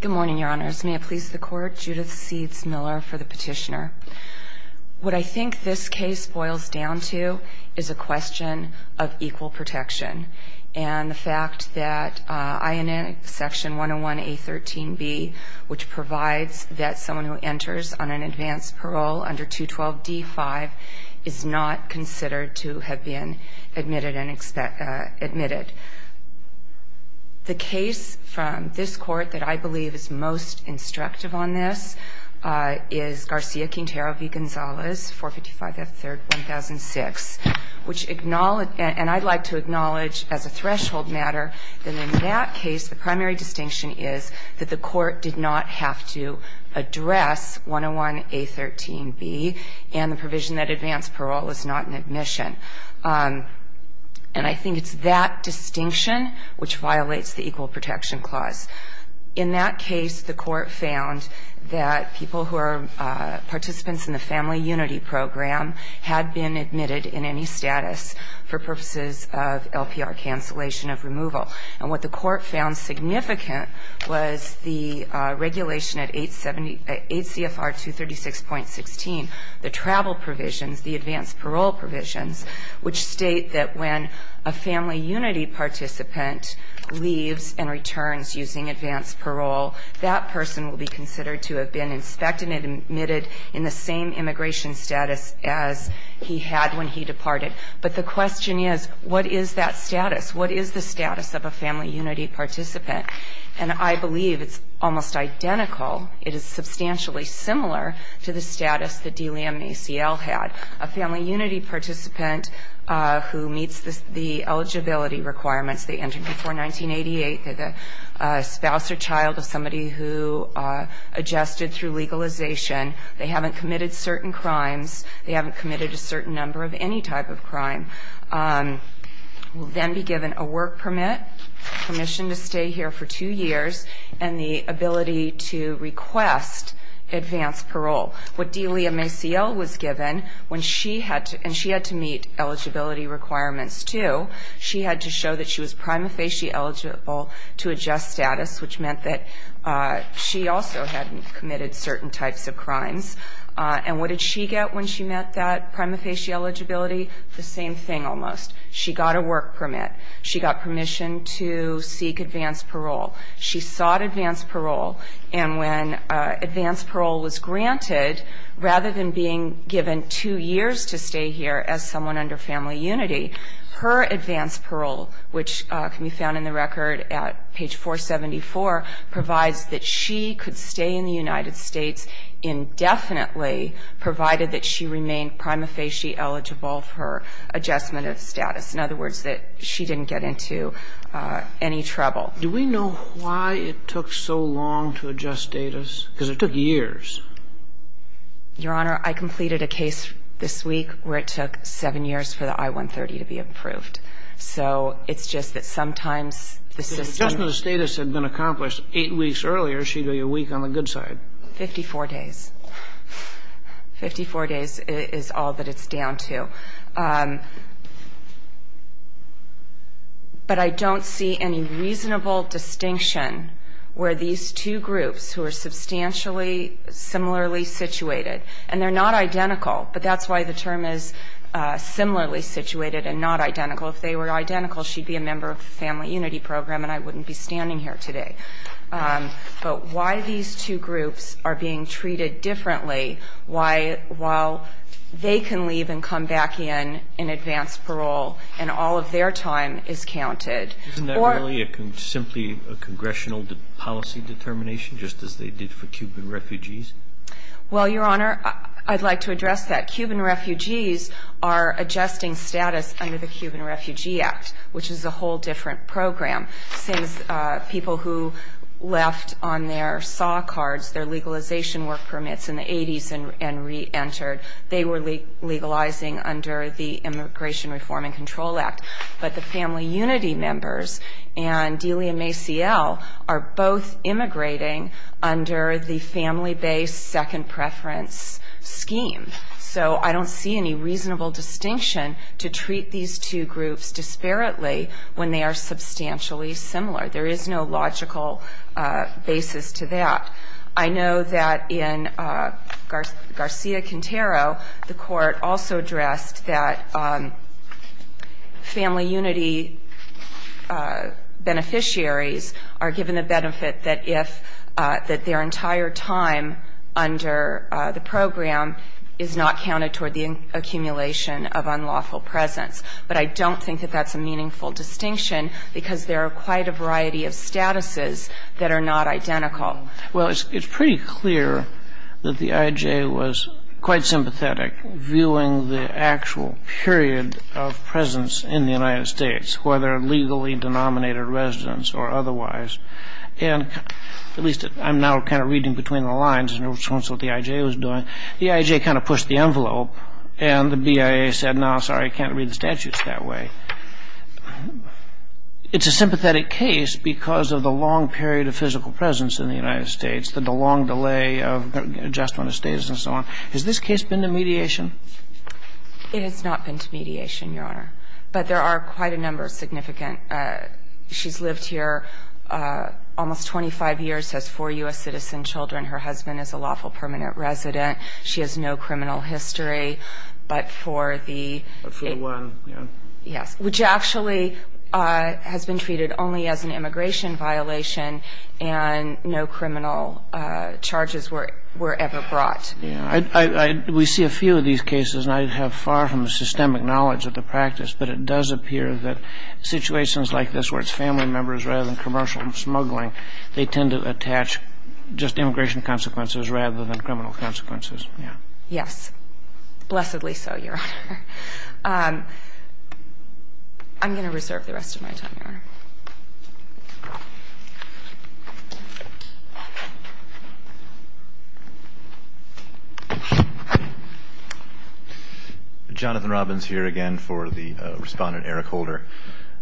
Good morning, Your Honors. May it please the Court, Judith Seeds Miller for the petitioner. What I think this case boils down to is a question of equal protection. And the fact that I&N Section 101A.13b, which provides that someone who enters on an advanced parole under 212d.5 is not considered to have been admitted. The case from this Court that I believe is most instructive on this is Garcia-Quintero v. Gonzalez, 455 F. 3rd, 1006. And I'd like to acknowledge as a threshold matter that in that case the primary distinction is that the Court did not have to address 101A.13b and the provision that advanced parole is not an admission. And I think it's that distinction which violates the Equal Protection Clause. In that case, the Court found that people who are participants in the Family Unity Program had been admitted in any status for purposes of LPR cancellation of removal. And what the Court found significant was the regulation at 8 CFR 236.16, the travel provisions, the advanced parole provisions, which state that when a Family Unity participant leaves and returns using advanced parole, that person will be considered to have been inspected and admitted in the same immigration status as he had when he departed. But the question is, what is that status? What is the status of a Family Unity participant? And I believe it's almost identical. It is substantially similar to the status that Delia Maciel had. A Family Unity participant who meets the eligibility requirements, they entered before 1988, they're the spouse or child of somebody who adjusted through legalization, they haven't committed certain crimes, they haven't committed a certain number of any type of crime, will then be given a work permit, permission to stay here for two years, and the ability to request advanced parole. What Delia Maciel was given when she had to, and she had to meet eligibility requirements, too, she had to show that she was prima facie eligible to adjust status, which meant that she also hadn't committed certain types of crimes. And what did she get when she met that prima facie eligibility? The same thing, almost. She got a work permit. She got permission to seek advanced parole. She sought advanced parole. And when advanced parole was granted, rather than being given two years to stay here as someone under Family Unity, her advanced parole, which can be found in the record at page 474, provides that she could stay in the United States indefinitely, provided that she remained prima facie eligible for adjustment of status. In other words, that she didn't get into any trouble. Do we know why it took so long to adjust status? Because it took years. Your Honor, I completed a case this week where it took seven years for the I-130 to be approved. So it's just that sometimes the system ---- If the adjustment of status had been accomplished eight weeks earlier, she'd be a week on the good side. Fifty-four days. Fifty-four days is all that it's down to. But I don't see any reasonable distinction where these two groups who are substantially similarly situated, and they're not identical, but that's why the term is similarly situated and not identical. If they were identical, she'd be a member of the Family Unity program and I wouldn't be standing here today. But why these two groups are being treated differently, while they can leave and come back in in advanced parole and all of their time is counted. Isn't that really simply a congressional policy determination, just as they did for Cuban refugees? Well, Your Honor, I'd like to address that. Cuban refugees are adjusting status under the Cuban Refugee Act, which is a whole different program. Since people who left on their SAW cards, their legalization work permits in the 80s and reentered, they were legalizing under the Immigration Reform and Control Act. But the Family Unity members and Delia Maciel are both immigrating under the family-based second preference scheme. So I don't see any reasonable distinction to treat these two groups disparately when they are substantially similar. There is no logical basis to that. I know that in Garcia-Quintero, the Court also addressed that Family Unity beneficiaries are given the benefit that their entire time under the program is not counted toward the accumulation of unlawful presence. But I don't think that that's a meaningful distinction, because there are quite a variety of statuses that are not identical. Well, it's pretty clear that the IJ was quite sympathetic, viewing the actual period of presence in the United States, whether legally-denominated residents or otherwise. And at least I'm now kind of reading between the lines in response to what the IJ was doing. The IJ kind of pushed the envelope, and the BIA said, no, sorry, can't read the statutes that way. It's a matter of, you know, the long delay of adjustment of status and so on. Has this case been to mediation? It has not been to mediation, Your Honor. But there are quite a number of significant. She's lived here almost 25 years, has four U.S. citizen children. Her husband is a lawful permanent resident. She has no criminal history. But for the one, you know. Yes. Which actually has been treated only as an immigration violation, and no criminal charges were ever brought. Yeah. We see a few of these cases, and I have far from systemic knowledge of the practice, but it does appear that situations like this, where it's family members rather than commercial smuggling, they tend to attach just immigration consequences rather than criminal consequences. Yes. Blessedly so, Your Honor. I'm going to reserve the rest of my time, Your Honor. Jonathan Robbins here again for the respondent, Eric Holder.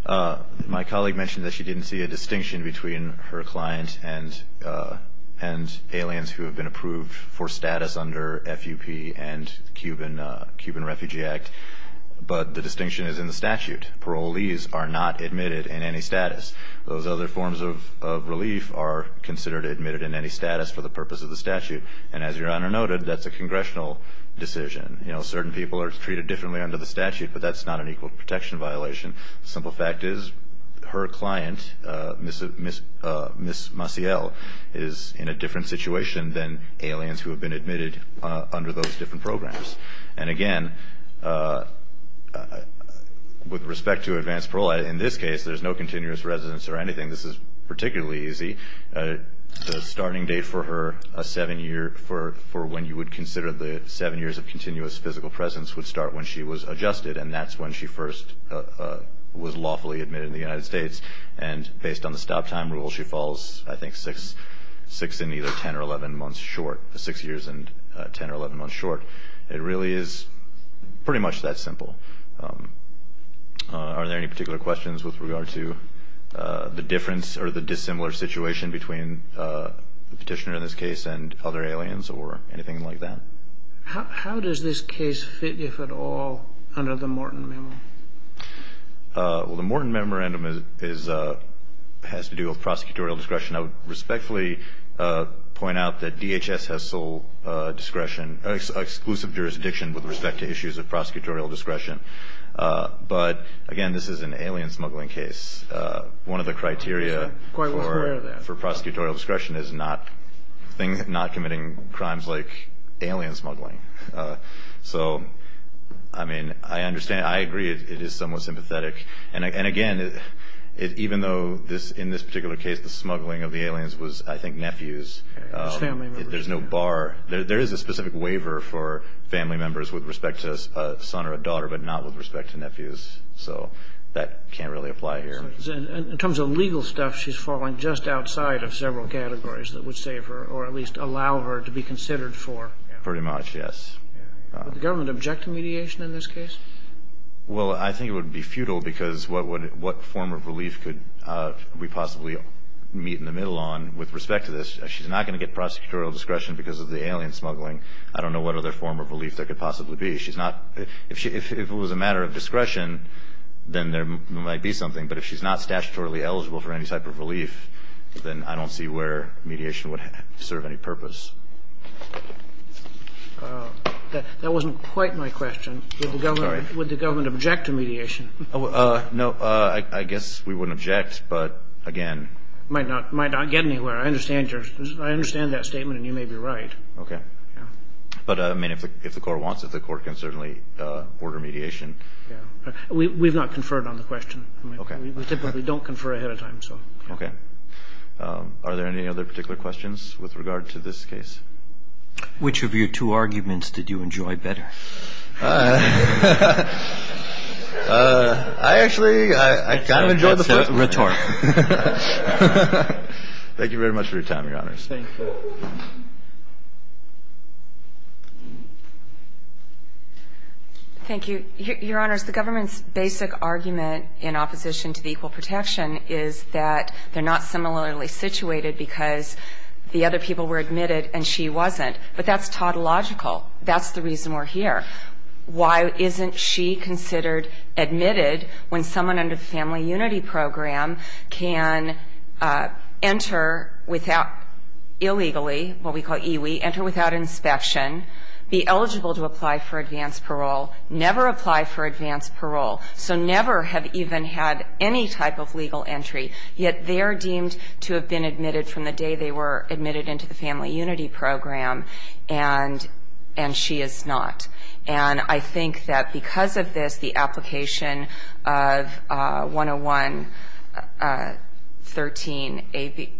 My colleague mentioned that she didn't see a distinction between her client and aliens who have been approved for status under the IJ. And I'm wondering if you could elaborate on that. My colleague, Eric Holder, has been a permanent resident under those different programs. And again, with respect to advanced parole, in this case there's no continuous residence or anything. This is particularly easy. The starting date for when you would consider the seven years of continuous physical presence would start when she was adjusted. And that's when she first was lawfully admitted in the United States. And based on the stop-time rule, she falls, I guess, 10 or 11 months short. It really is pretty much that simple. Are there any particular questions with regard to the difference or the dissimilar situation between the petitioner in this case and other aliens or anything like that? How does this case fit, if at all, under the Morton Memorandum? Well, the Morton Memorandum has to do with prosecutorial discretion. I would respectfully point out that DHS has sole discretion, exclusive jurisdiction with respect to issues of prosecutorial discretion. But again, this is an alien smuggling case. One of the criteria for prosecutorial discretion is not committing crimes like alien smuggling. So, I mean, I understand. I agree it is somewhat sympathetic. And again, even though in this particular case the smuggling of the aliens was, I think, done by nephews, there is no bar. There is a specific waiver for family members with respect to a son or a daughter, but not with respect to nephews. So that can't really apply here. In terms of legal stuff, she's falling just outside of several categories that would save her or at least allow her to be considered for. Pretty much, yes. Would the government object to mediation in this case? Well, I think it would be futile because what form of relief could we possibly meet in the middle on with respect to this? She's not going to get prosecutorial discretion because of the alien smuggling. I don't know what other form of relief there could possibly be. If it was a matter of discretion, then there might be something. But if she's not statutorily eligible for any type of relief, then I don't see where mediation would serve any purpose. That wasn't quite my question. Would the government object to mediation? No, I guess we wouldn't object, but again... It might not get anywhere. I understand that statement and you may be right. But if the court wants it, the court can certainly order mediation. We've not conferred on the question. We typically don't confer ahead of time. Okay. Are there any other particular questions with regard to this case? Which of your two arguments did you enjoy better? I actually kind of enjoyed the first one. Thank you very much for your time, Your Honors. Thank you. Your Honors, the government's basic argument in opposition to the Equal Protection is that the family is not similarly situated because the other people were admitted and she wasn't. But that's tautological. That's the reason we're here. Why isn't she considered admitted when someone under the Family Unity Program can enter illegally, what we call EWI, enter without inspection, be eligible to apply for advanced parole, never apply for advanced parole, so never have even had any type of legal entry, yet they're deemed to have been admitted from the day they were admitted into the Family Unity Program, and she is not. And I think that because of this, the application of 101-13A,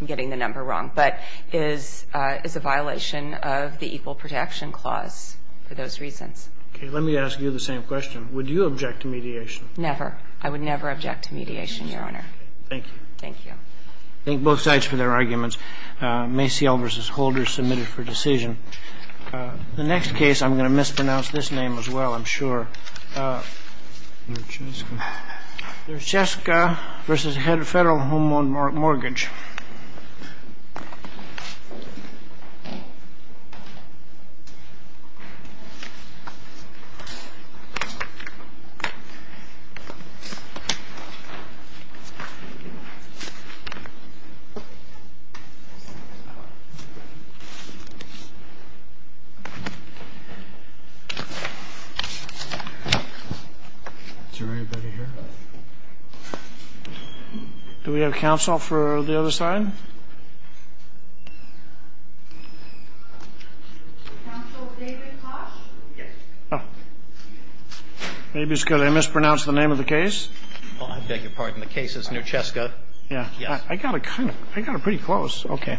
I'm getting the number wrong, but is a violation of the Equal Protection Clause for those reasons. Okay. Let me ask you the same question. Would you object to mediation? Never. I would never object to mediation, Your Honor. Thank you. Thank you. Thank you. Thank you. Is there anybody here? Do we have counsel for the other side? Counsel David Koch? Maybe it's because I mispronounced the name of the case. I beg your pardon. The case is Neuchaska. I got it pretty close. Okay.